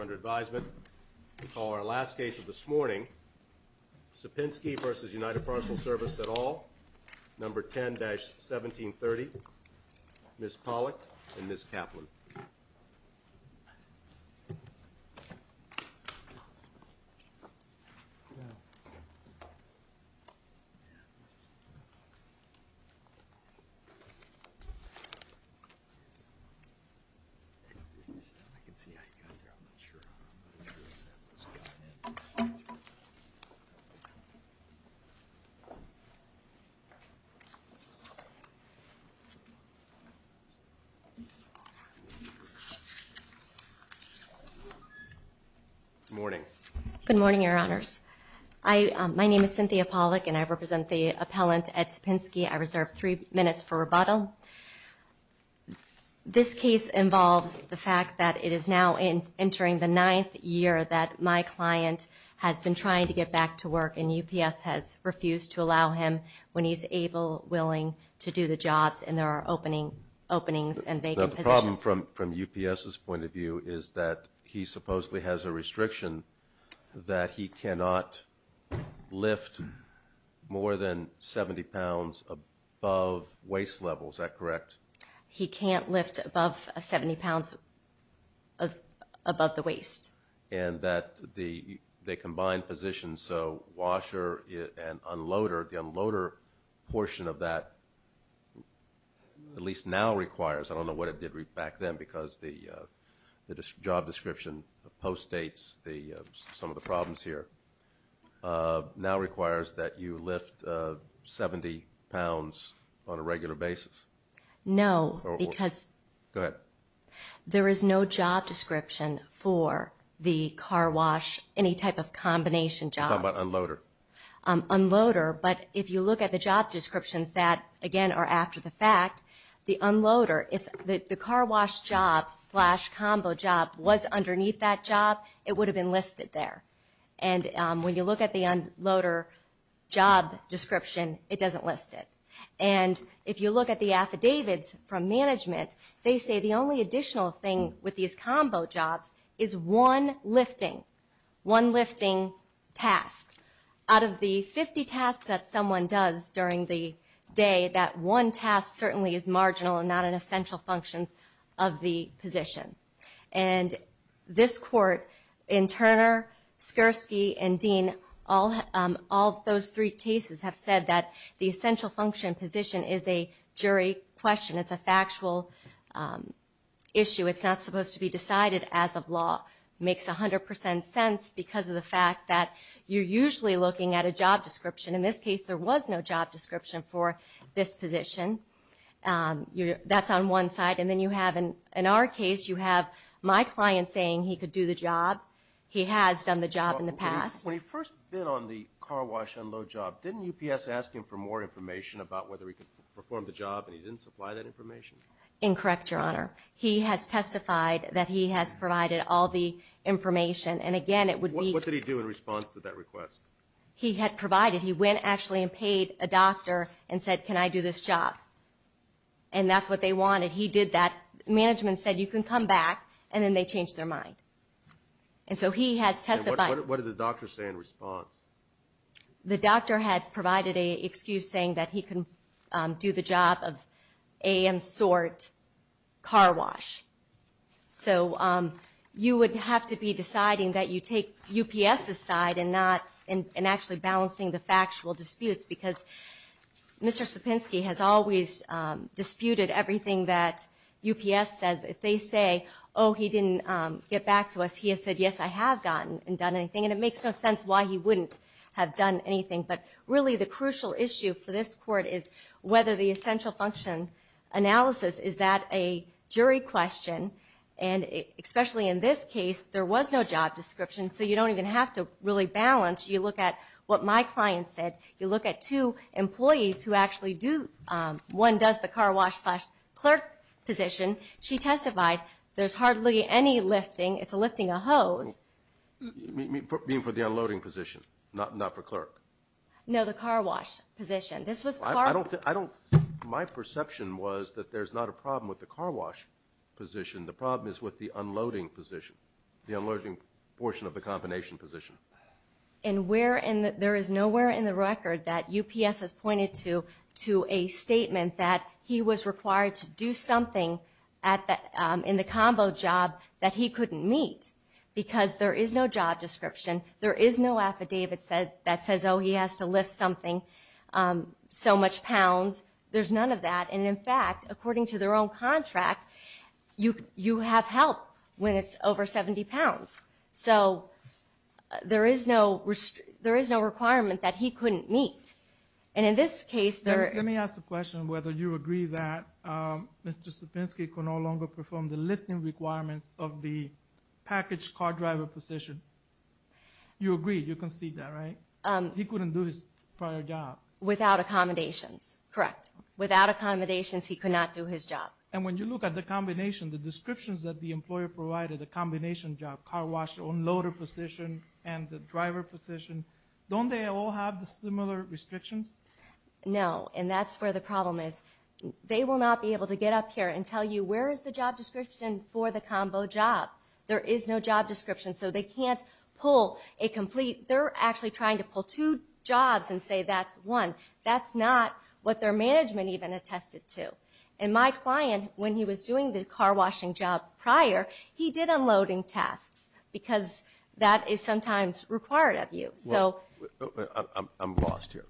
Under advisement, we call our last case of this morning, Sapinski v. United Parcel Service et al., number 10-1730, Ms. Pollack and Ms. Kaplan. Good morning, Your Honors. My name is Cynthia Pollack, and I represent the appellant at Sapinski. I reserve three minutes for rebuttal. This case involves the fact that it is now entering the ninth year that my client has been trying to get back to work, and UPS has refused to allow him when he's able, willing to do the jobs, and there are openings and vacant positions. The problem from UPS's point of view is that he supposedly has a restriction that he cannot lift more than 70 pounds above waist level, is that correct? He can't lift above 70 pounds above the waist. And that they combine positions, so washer and unloader, the unloader portion of that, at least now requires, I don't know what it did back then because the job description post-dates some of the problems here, now requires that you lift 70 pounds on a regular basis. No, because there is no job description for the car wash, any type of combination job. You're talking about unloader. Unloader, but if you look at the job descriptions that, again, are after the fact, the unloader, if the car wash job slash combo job was underneath that job, it would have been listed there. And when you look at the unloader job description, it doesn't list it. And if you look at the affidavits from management, they say the only additional thing with these combo jobs is one lifting, one lifting task. Out of the 50 tasks that someone does during the day, that one task certainly is marginal and not an essential function of the position. And this court, in Turner, Skirsky, and Dean, all those three cases have said that the essential function position is a jury question. It's a factual issue. It's not supposed to be decided as of law. It makes 100 percent sense because of the fact that you're usually looking at a job description. In this case, there was no job description for this position. That's on one side. And then you have, in our case, you have my client saying he could do the job. He has done the job in the past. When he first bid on the car wash unload job, didn't UPS ask him for more information about whether he could perform the job and he didn't supply that information? Incorrect, Your Honor. He has testified that he has provided all the information. And, again, it would be – What did he do in response to that request? He had provided. He went, actually, and paid a doctor and said, can I do this job? And that's what they wanted. He did that. Management said, you can come back. And then they changed their mind. And so he has testified. And what did the doctor say in response? The doctor had provided an excuse saying that he can do the job of AM sort car wash. So you would have to be deciding that you take UPS's side and actually balancing the factual disputes because Mr. Sapinski has always disputed everything that UPS says. If they say, oh, he didn't get back to us, he has said, yes, I have gotten and done anything. And it makes no sense why he wouldn't have done anything. But, really, the crucial issue for this court is whether the essential function analysis, is that a jury question? And especially in this case, there was no job description, so you don't even have to really balance. You look at what my client said. You look at two employees who actually do. One does the car wash slash clerk position. She testified there's hardly any lifting. It's lifting a hose. You mean for the unloading position, not for clerk? No, the car wash position. My perception was that there's not a problem with the car wash position. The problem is with the unloading position, the unloading portion of the combination position. And there is nowhere in the record that UPS has pointed to a statement that he was required to do something in the combo job that he couldn't meet because there is no job description. There is no affidavit that says, oh, he has to lift something, so much pounds. There's none of that. And, in fact, according to their own contract, you have help when it's over 70 pounds. So there is no requirement that he couldn't meet. And in this case, there is. Let me ask the question whether you agree that Mr. Sapinski can no longer perform the lifting requirements of the packaged car driver position. You agree. You concede that, right? He couldn't do his prior job. Without accommodations. Correct. Without accommodations, he could not do his job. And when you look at the combination, the descriptions that the employer provided, the combination job, car wash, unloader position, and the driver position, don't they all have the similar restrictions? No, and that's where the problem is. They will not be able to get up here and tell you where is the job description for the combo job. There is no job description, so they can't pull a complete – they're actually trying to pull two jobs and say that's one. That's not what their management even attested to. And my client, when he was doing the car washing job prior, he did unloading tasks because that is sometimes required of you. I'm lost here.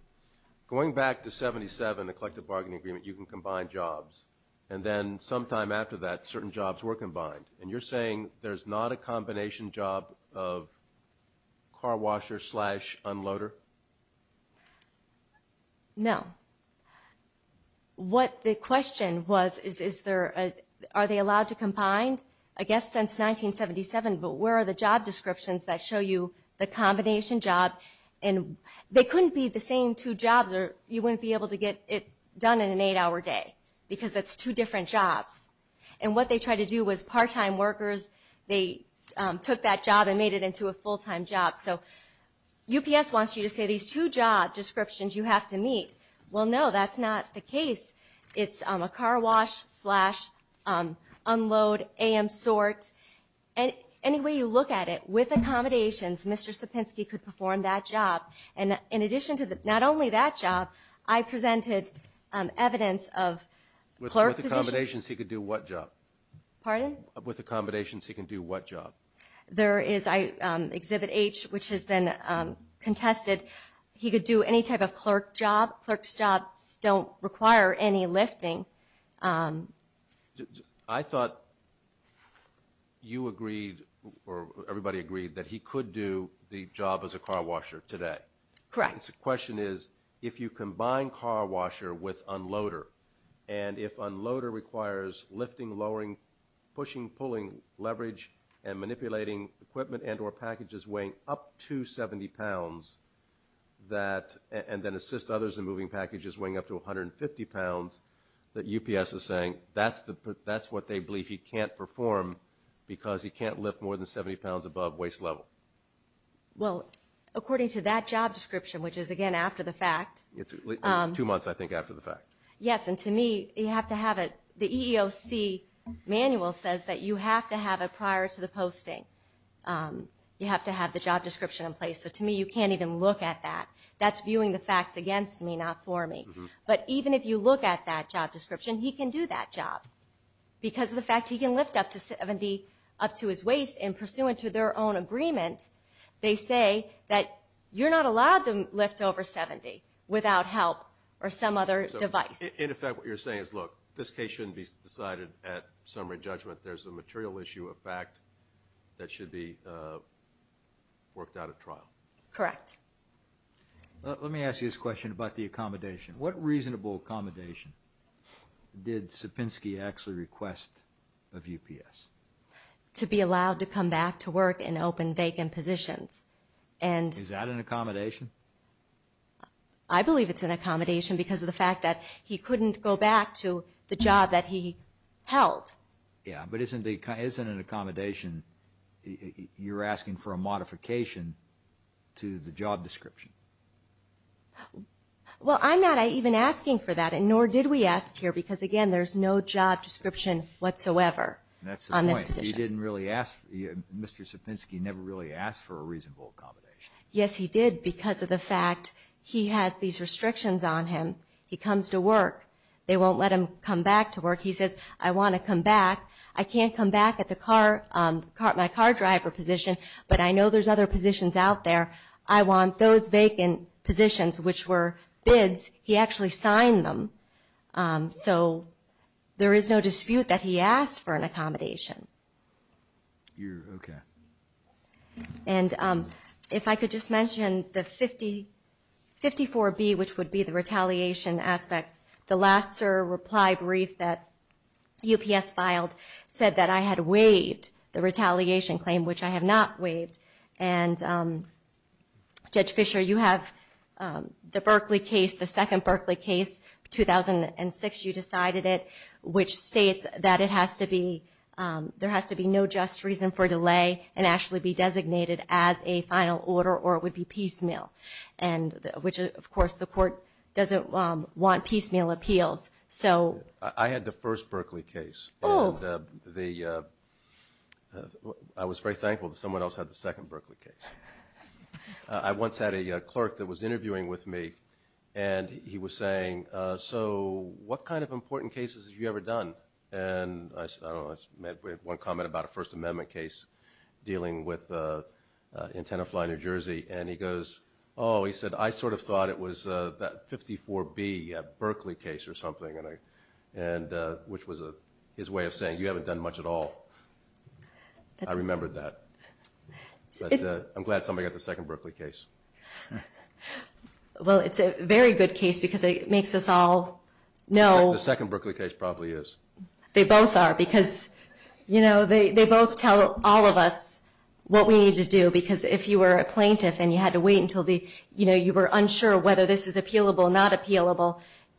Going back to 77, the collective bargaining agreement, you can combine jobs. And then sometime after that, certain jobs were combined. And you're saying there's not a combination job of car washer slash unloader? No. What the question was is are they allowed to combine? I guess since 1977, but where are the job descriptions that show you the combination job? They couldn't be the same two jobs or you wouldn't be able to get it done in an eight-hour day because that's two different jobs. And what they tried to do was part-time workers, they took that job and made it into a full-time job. So UPS wants you to say these two job descriptions you have to meet. Well, no, that's not the case. It's a car wash slash unload AM sort. Any way you look at it, with accommodations, Mr. Sapinski could perform that job. And in addition to not only that job, I presented evidence of clerk positions. With accommodations, he could do what job? Pardon? With accommodations, he can do what job? There is Exhibit H, which has been contested. He could do any type of clerk job. Clerks' jobs don't require any lifting. I thought you agreed or everybody agreed that he could do the job as a car washer today. Correct. The question is if you combine car washer with unloader, and if unloader requires lifting, lowering, pushing, pulling, leverage, and manipulating equipment and or packages weighing up to 70 pounds and then assist others in moving packages weighing up to 150 pounds, that UPS is saying that's what they believe he can't perform because he can't lift more than 70 pounds above waist level. Well, according to that job description, which is, again, after the fact. Two months, I think, after the fact. Yes, and to me, you have to have it. The EEOC manual says that you have to have it prior to the posting. You have to have the job description in place. So to me, you can't even look at that. That's viewing the facts against me, not for me. But even if you look at that job description, he can do that job because of the fact he can lift up to 70 up to his waist, and pursuant to their own agreement, they say that you're not allowed to lift over 70 without help or some other device. In effect, what you're saying is, look, this case shouldn't be decided at summary judgment. There's a material issue of fact that should be worked out at trial. Correct. Let me ask you this question about the accommodation. What reasonable accommodation did Sapinski actually request of UPS? To be allowed to come back to work in open, vacant positions. Is that an accommodation? I believe it's an accommodation because of the fact that he couldn't go back to the job that he held. Yes, but isn't an accommodation, you're asking for a modification to the job description? Well, I'm not even asking for that, and nor did we ask here because, again, there's no job description whatsoever on this position. That's the point. He didn't really ask. Mr. Sapinski never really asked for a reasonable accommodation. Yes, he did because of the fact he has these restrictions on him. He comes to work. They won't let him come back to work. He says, I want to come back. I can't come back at my car driver position, but I know there's other positions out there. I want those vacant positions, which were bids. He actually signed them. So there is no dispute that he asked for an accommodation. Okay. And if I could just mention the 54B, which would be the retaliation aspects. The last SIR reply brief that UPS filed said that I had waived the retaliation claim, which I have not waived. And, Judge Fisher, you have the Berkeley case, the second Berkeley case, 2006. You decided it, which states that it has to be no just reason for delay and actually be designated as a final order or it would be piecemeal, which, of course, the court doesn't want piecemeal appeals. I had the first Berkeley case. Oh. And I was very thankful that someone else had the second Berkeley case. I once had a clerk that was interviewing with me, and he was saying, so what kind of important cases have you ever done? And I said, I don't know, I made one comment about a First Amendment case dealing in Tenafly, New Jersey. And he goes, oh, he said, I sort of thought it was that 54B Berkeley case or something, which was his way of saying, you haven't done much at all. I remembered that. But I'm glad somebody got the second Berkeley case. Well, it's a very good case because it makes us all know. The second Berkeley case probably is. They both are because, you know, they both tell all of us what we need to do because if you were a plaintiff and you had to wait until the, you know, you were unsure whether this is appealable or not appealable,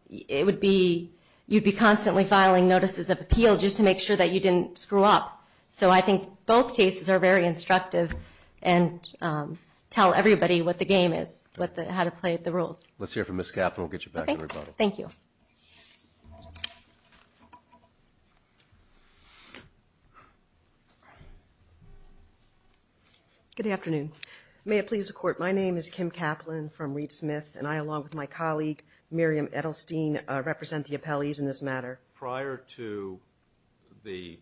it would be you'd be constantly filing notices of appeal just to make sure that you didn't screw up. So I think both cases are very instructive and tell everybody what the game is, how to play the rules. Let's hear from Ms. Kaplan. We'll get you back to rebuttal. Thank you. Good afternoon. May it please the Court, my name is Kim Kaplan from Reed Smith, and I, along with my colleague, Miriam Edelstein, represent the appellees in this matter. Prior to the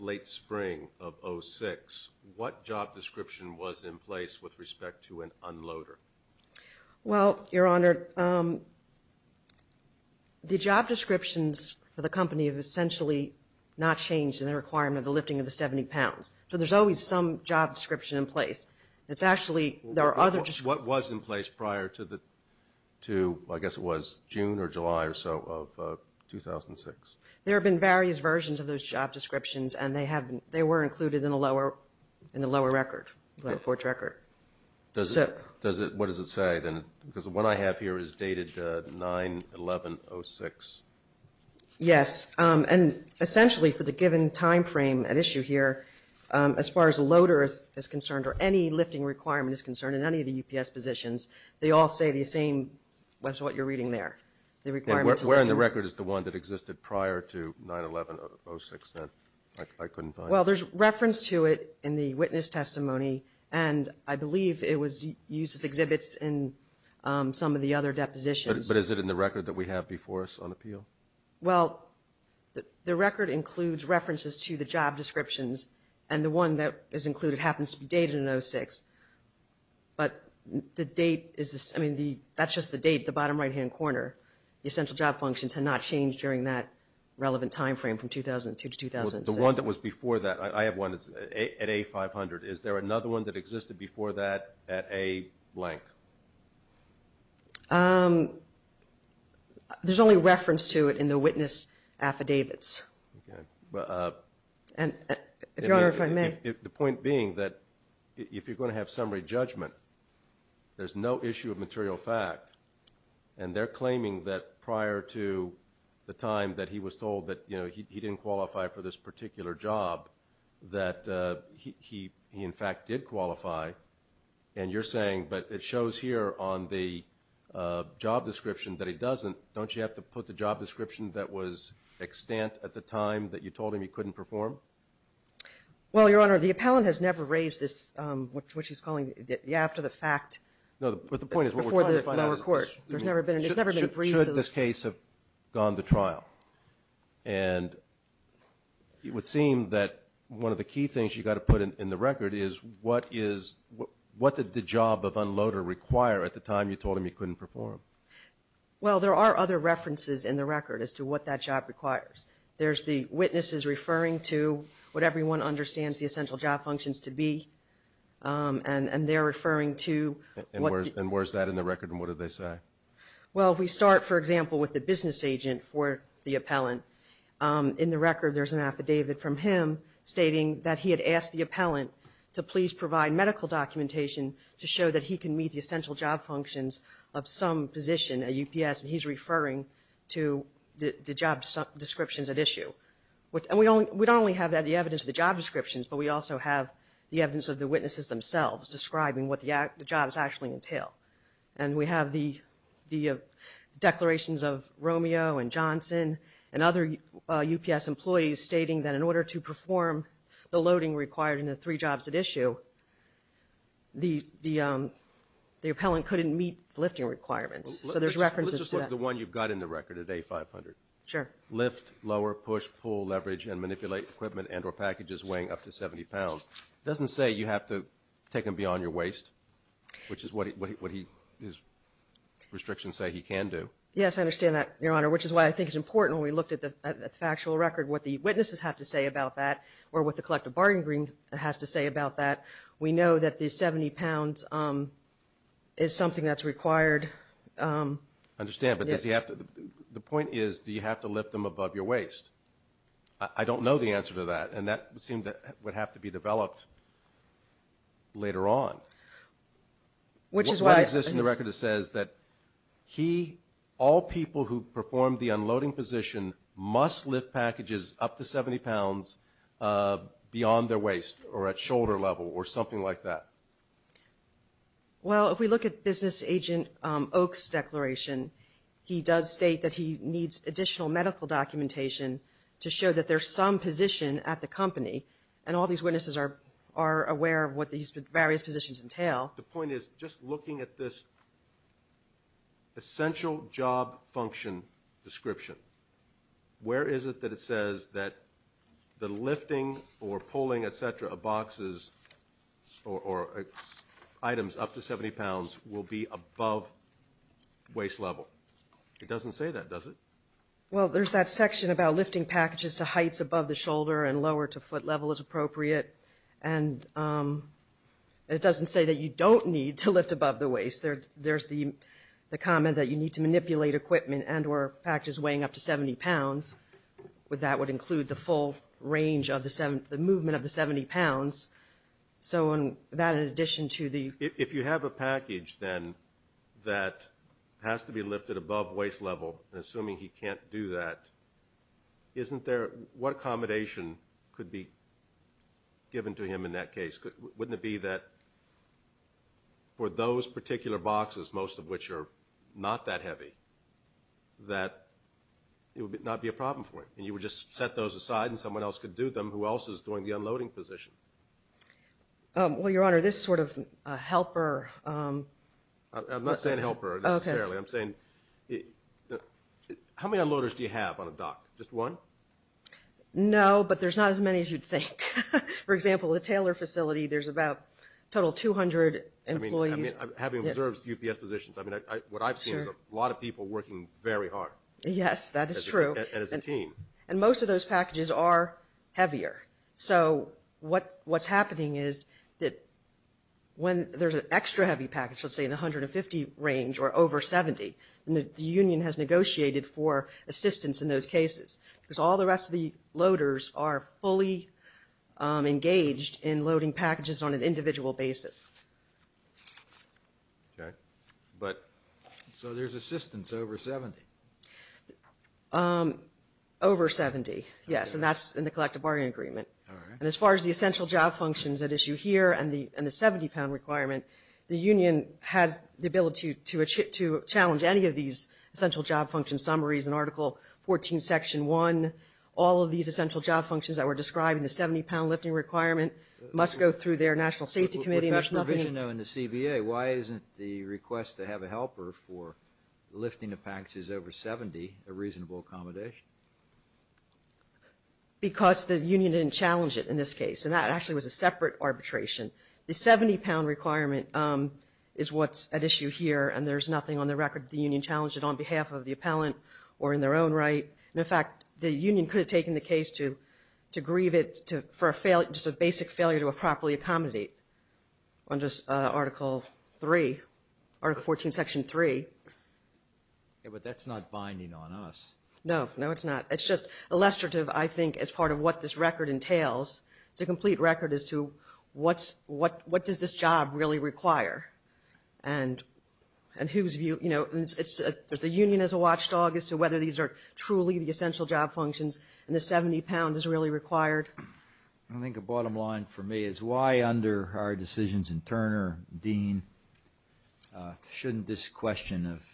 late spring of 2006, what job description was in place with respect to an unloader? Well, Your Honor, the job descriptions for the company have essentially not changed in the requirement of the lifting of the 70 pounds. What was in place prior to, I guess it was June or July or so of 2006? There have been various versions of those job descriptions, and they were included in the lower record, the court record. What does it say? Because the one I have here is dated 9-11-06. Yes, and essentially for the given time frame at issue here, as far as a loader is concerned or any lifting requirement is concerned in any of the UPS positions, they all say the same as what you're reading there, the requirement to lift. And where in the record is the one that existed prior to 9-11-06 then? I couldn't find it. Well, there's reference to it in the witness testimony, and I believe it was used as exhibits in some of the other depositions. But is it in the record that we have before us on appeal? Well, the record includes references to the job descriptions, and the one that is included happens to be dated in 06. But that's just the date at the bottom right-hand corner. The essential job functions had not changed during that relevant time frame from 2002 to 2006. The one that was before that, I have one at A-500. Is there another one that existed before that at A-blank? There's only reference to it in the witness affidavits. Okay. If Your Honor, if I may. The point being that if you're going to have summary judgment, there's no issue of material fact, and they're claiming that prior to the time that he was told that he didn't qualify for this particular job, that he, in fact, did qualify. And you're saying, but it shows here on the job description that he doesn't. Don't you have to put the job description that was extant at the time that you told him he couldn't perform? Well, Your Honor, the appellant has never raised this, what she's calling after the fact. No, but the point is what we're trying to find out is should this case have gone to trial? And it would seem that one of the key things you've got to put in the record is what is, what did the job of unloader require at the time you told him he couldn't perform? Well, there are other references in the record as to what that job requires. There's the witnesses referring to what everyone understands the essential job functions to be, and they're referring to what the... And where's that in the record, and what do they say? Well, if we start, for example, with the business agent for the appellant, in the record there's an affidavit from him stating that he had asked the appellant to please provide medical documentation to show that he can meet the essential job functions of some position at UPS, and he's referring to the job descriptions at issue. And we don't only have that, the evidence of the job descriptions, but we also have the evidence of the witnesses themselves describing what the jobs actually entail. And we have the declarations of Romeo and Johnson and other UPS employees stating that in order to perform the loading required in the three jobs at issue, the appellant couldn't meet the lifting requirements. So there's references to that. Let's just look at the one you've got in the record at A500. Sure. Lift, lower, push, pull, leverage, and manipulate equipment and or packages weighing up to 70 pounds. It doesn't say you have to take them beyond your waist, which is what his restrictions say he can do. Yes, I understand that, Your Honor, which is why I think it's important when we looked at the factual record what the witnesses have to say about that or what the collective bargaining agreement has to say about that. We know that the 70 pounds is something that's required. I understand, but the point is do you have to lift them above your waist? I don't know the answer to that, and that would seem to have to be developed later on. What exists in the record that says that he, all people who perform the unloading position, must lift packages up to 70 pounds beyond their waist or at shoulder level or something like that? Well, if we look at Business Agent Oak's declaration, he does state that he needs additional medical documentation to show that there's some position at the company, and all these witnesses are aware of what these various positions entail. The point is just looking at this essential job function description, where is it that it says that the lifting or pulling, et cetera, of boxes or items up to 70 pounds will be above waist level? It doesn't say that, does it? Well, there's that section about lifting packages to heights above the shoulder and lower to foot level is appropriate, and it doesn't say that you don't need to lift above the waist. There's the comment that you need to manipulate equipment and or packages weighing up to 70 pounds. That would include the full range of the movement of the 70 pounds, so that in addition to the... If you have a package, then, that has to be lifted above waist level, and assuming he can't do that, what accommodation could be given to him in that case? Wouldn't it be that for those particular boxes, most of which are not that heavy, that it would not be a problem for him, and you would just set those aside and someone else could do them? Who else is doing the unloading position? Well, Your Honor, this sort of helper... I'm not saying helper, necessarily. I'm saying, how many unloaders do you have on a dock? Just one? No, but there's not as many as you'd think. For example, the Taylor facility, there's about a total of 200 employees. I mean, having observed UPS positions, what I've seen is a lot of people working very hard. Yes, that is true. And as a team. And most of those packages are heavier, so what's happening is that when there's an extra heavy package, let's say in the 150 range or over 70, and the union has negotiated for assistance in those cases, because all the rest of the loaders are fully engaged in loading packages on an individual basis. So there's assistance over 70? Over 70, yes, and that's in the collective bargaining agreement. And as far as the essential job functions at issue here and the 70-pound requirement, the union has the ability to challenge any of these essential job function summaries in Article 14, Section 1. All of these essential job functions that were described in the 70-pound lifting requirement must go through their national safety committee. But with that provision, though, in the CBA, why isn't the request to have a helper for lifting the packages over 70 a reasonable accommodation? Because the union didn't challenge it in this case, and that actually was a separate arbitration. The 70-pound requirement is what's at issue here, and there's nothing on the record that the union challenged it on behalf of the appellant or in their own right. In fact, the union could have taken the case to grieve it for a basic failure to properly accommodate under Article 3, Article 14, Section 3. But that's not binding on us. No, no, it's not. It's just illustrative, I think, as part of what this record entails. It's a complete record as to what does this job really require. And whose view, you know, the union is a watchdog as to whether these are truly the essential job functions, and the 70 pound is really required. I think a bottom line for me is why under our decisions in Turner, Dean, shouldn't this question of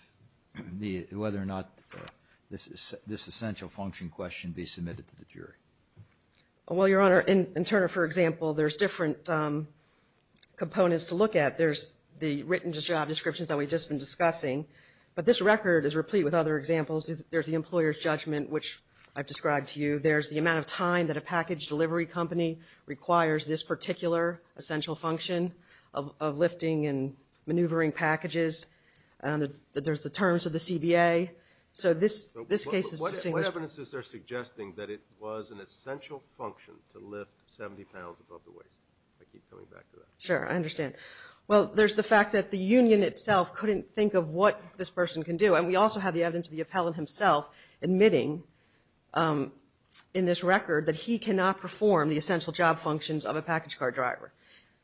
whether or not this essential function question be submitted to the jury? Well, Your Honor, in Turner, for example, there's different components to look at. There's the written job descriptions that we've just been discussing, but this record is replete with other examples. There's the employer's judgment, which I've described to you. There's the amount of time that a package delivery company requires this particular essential function of lifting and maneuvering packages. There's the terms of the CBA. So this case is a single- What evidence is there suggesting that it was an essential function to lift 70 pounds above the waist? I keep coming back to that. Sure, I understand. Well, there's the fact that the union itself couldn't think of what this person can do. And we also have the evidence of the appellant himself admitting in this record that he cannot perform the essential job functions of a package car driver.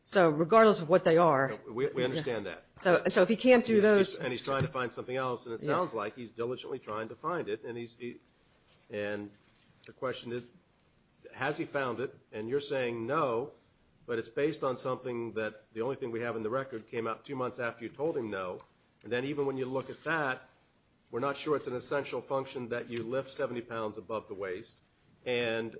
So regardless of what they are- We understand that. So if he can't do those- And he's trying to find something else, and it sounds like he's diligently trying to find it. And the question is, has he found it? And you're saying no, but it's based on something that the only thing we have in the record came out two months after you told him no. And then even when you look at that, we're not sure it's an essential function that you lift 70 pounds above the waist. And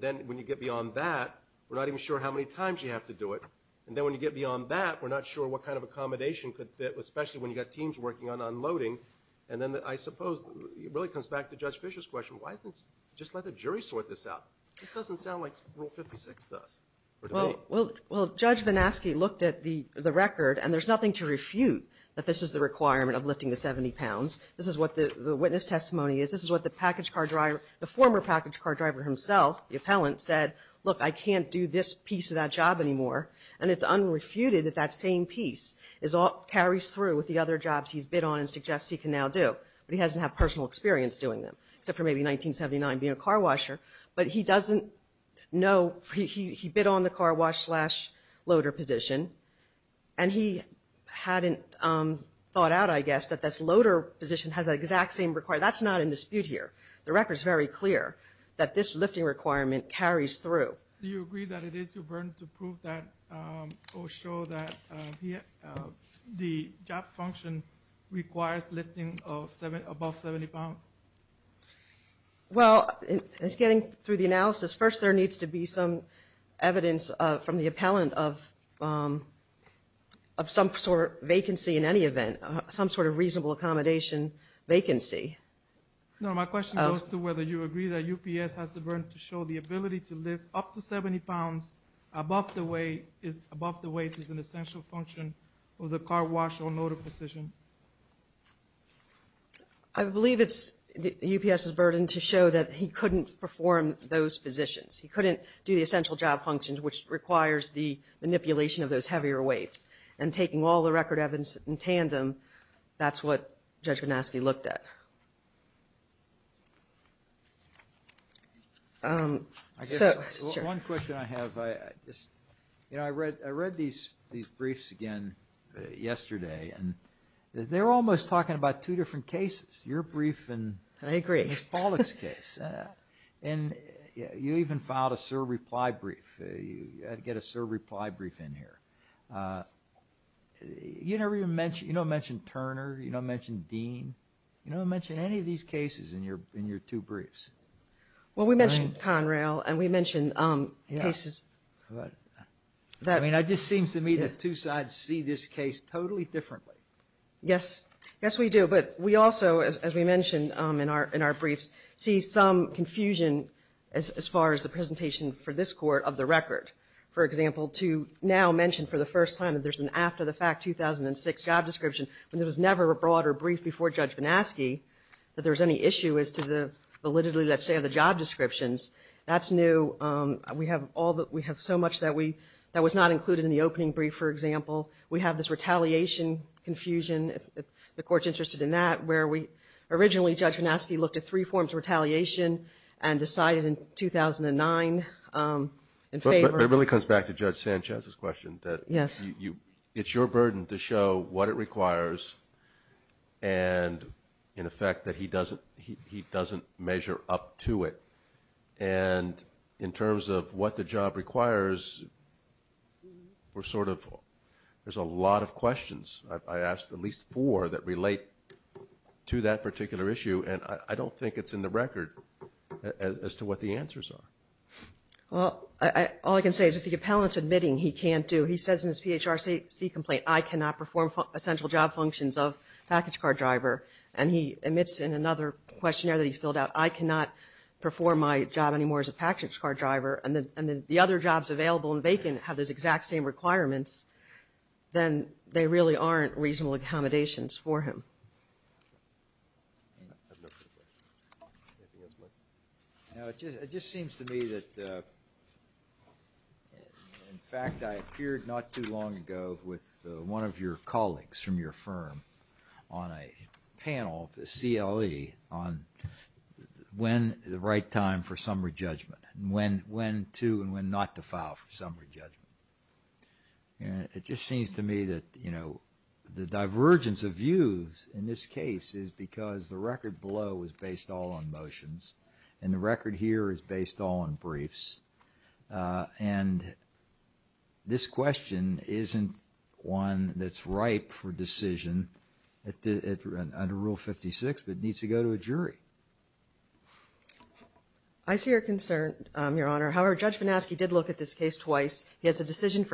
then when you get beyond that, we're not even sure how many times you have to do it. And then when you get beyond that, we're not sure what kind of accommodation could fit, especially when you've got teams working on unloading. And then I suppose it really comes back to Judge Fischer's question, why doesn't he just let the jury sort this out? This doesn't sound like Rule 56 to us, or to me. Well, Judge Vanaski looked at the record, and there's nothing to refute that this is the requirement of lifting the 70 pounds. This is what the witness testimony is. This is what the package car driver-the former package car driver himself, the appellant, said, look, I can't do this piece of that job anymore. And it's unrefuted that that same piece carries through with the other jobs he's bid on and suggests he can now do. But he hasn't had personal experience doing them, except for maybe 1979 being a car washer. But he doesn't know-he bid on the car wash slash loader position, and he hadn't thought out, I guess, that this loader position has that exact same requirement. That's not in dispute here. The record's very clear that this lifting requirement carries through. Do you agree that it is your burden to prove that or show that the job function requires lifting above 70 pounds? Well, it's getting through the analysis. First, there needs to be some evidence from the appellant of some sort of vacancy in any event, some sort of reasonable accommodation vacancy. No, my question goes to whether you agree that UPS has the burden to show the ability to lift up to 70 pounds above the weight is an essential function of the car wash or loader position. I believe it's UPS's burden to show that he couldn't perform those positions. He couldn't do the essential job functions, which requires the manipulation of those heavier weights. And taking all the record evidence in tandem, that's what Judge Ganaski looked at. One question I have, I read these briefs again yesterday, and they're almost talking about two different cases, your brief and Ms. Pollack's case. And you even filed a serve-reply brief. You had to get a serve-reply brief in here. You don't mention Turner. You don't mention Dean. You don't mention any of these cases in your two briefs. Well, we mentioned Conrail, and we mentioned cases. I mean, it just seems to me that two sides see this case totally differently. Yes. Yes, we do. But we also, as we mentioned in our briefs, see some confusion as far as the presentation for this court of the record. For example, to now mention for the first time that there's an after-the-fact 2006 job description, when there was never a broader brief before Judge Ganaski that there was any issue as to the validity, let's say, of the job descriptions. That's new. We have so much that was not included in the opening brief, for example. We have this retaliation confusion, if the Court's interested in that, where originally Judge Ganaski looked at three forms of retaliation and decided in 2009 in favor of – It really comes back to Judge Sanchez's question. Yes. It's your burden to show what it requires and, in effect, that he doesn't measure up to it. And in terms of what the job requires, we're sort of – there's a lot of questions, I asked at least four that relate to that particular issue, and I don't think it's in the record as to what the answers are. Well, all I can say is if the appellant's admitting he can't do – he says in his PHRC complaint, I cannot perform essential job functions of package car driver, and he admits in another questionnaire that he's filled out, I cannot perform my job anymore as a package car driver, and then the other jobs available and vacant have those exact same requirements, then they really aren't reasonable accommodations for him. No, it just seems to me that, in fact, I appeared not too long ago with one of your colleagues from your firm on a panel, a CLE, on when is the right time for summary judgment, when to and when not to file for summary judgment. And it just seems to me that, you know, the divergence of views in this case is because the record below was based all on motions, and the record here is based all on briefs. And this question isn't one that's ripe for decision under Rule 56, but it needs to go to a jury. I see your concern, Your Honor. However, Judge VanAschke did look at this case twice. He has a decision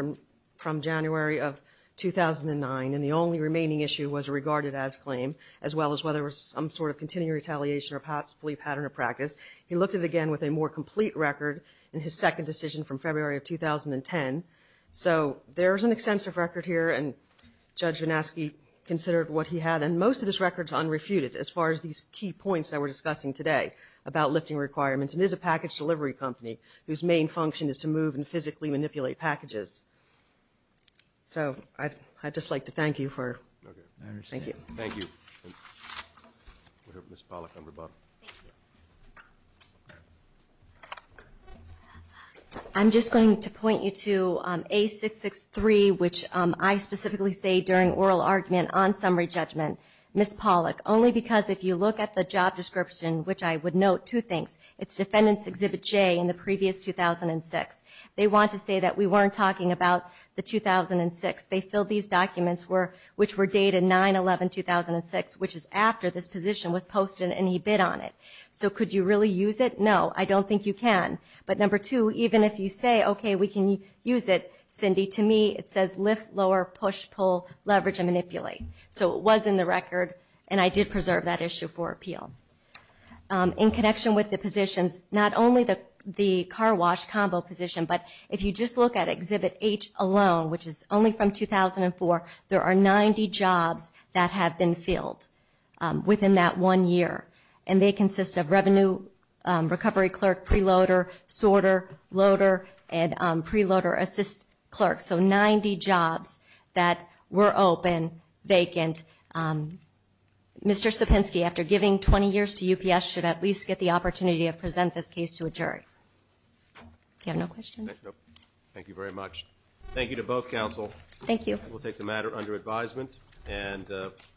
from January of 2009, and the only remaining issue was a regarded-as claim, as well as whether there was some sort of continuing retaliation or possibly pattern of practice. He looked at it again with a more complete record in his second decision from February of 2010. So there is an extensive record here, and Judge VanAschke considered what he had, and most of this record is unrefuted as far as these key points that we're discussing today about lifting requirements. It is a package delivery company whose main function is to move and physically manipulate packages. So I'd just like to thank you for... Okay. I understand. Thank you. Thank you. We'll hear from Ms. Pollack on rebuttal. Thank you. I'm just going to point you to A663, which I specifically say during oral argument on summary judgment. Ms. Pollack, only because if you look at the job description, which I would note two things. It's Defendant's Exhibit J in the previous 2006. They want to say that we weren't talking about the 2006. They filled these documents, which were dated 9-11-2006, which is after this position was posted and he bid on it. So could you really use it? No. I don't think you can. But number two, even if you say, okay, we can use it, Cindy, to me it says lift, lower, push, pull, leverage, and manipulate. So it was in the record, and I did preserve that issue for appeal. In connection with the positions, not only the car wash combo position, but if you just look at Exhibit H alone, which is only from 2004, there are 90 jobs that have been filled within that one year, and they consist of revenue recovery clerk, preloader, sorter, loader, and preloader assist clerk. So 90 jobs that were open, vacant. Mr. Sapinski, after giving 20 years to UPS, should at least get the opportunity to present this case to a jury. Do you have no questions? No. Thank you very much. Thank you to both counsel. Thank you. We'll take the matter under advisement.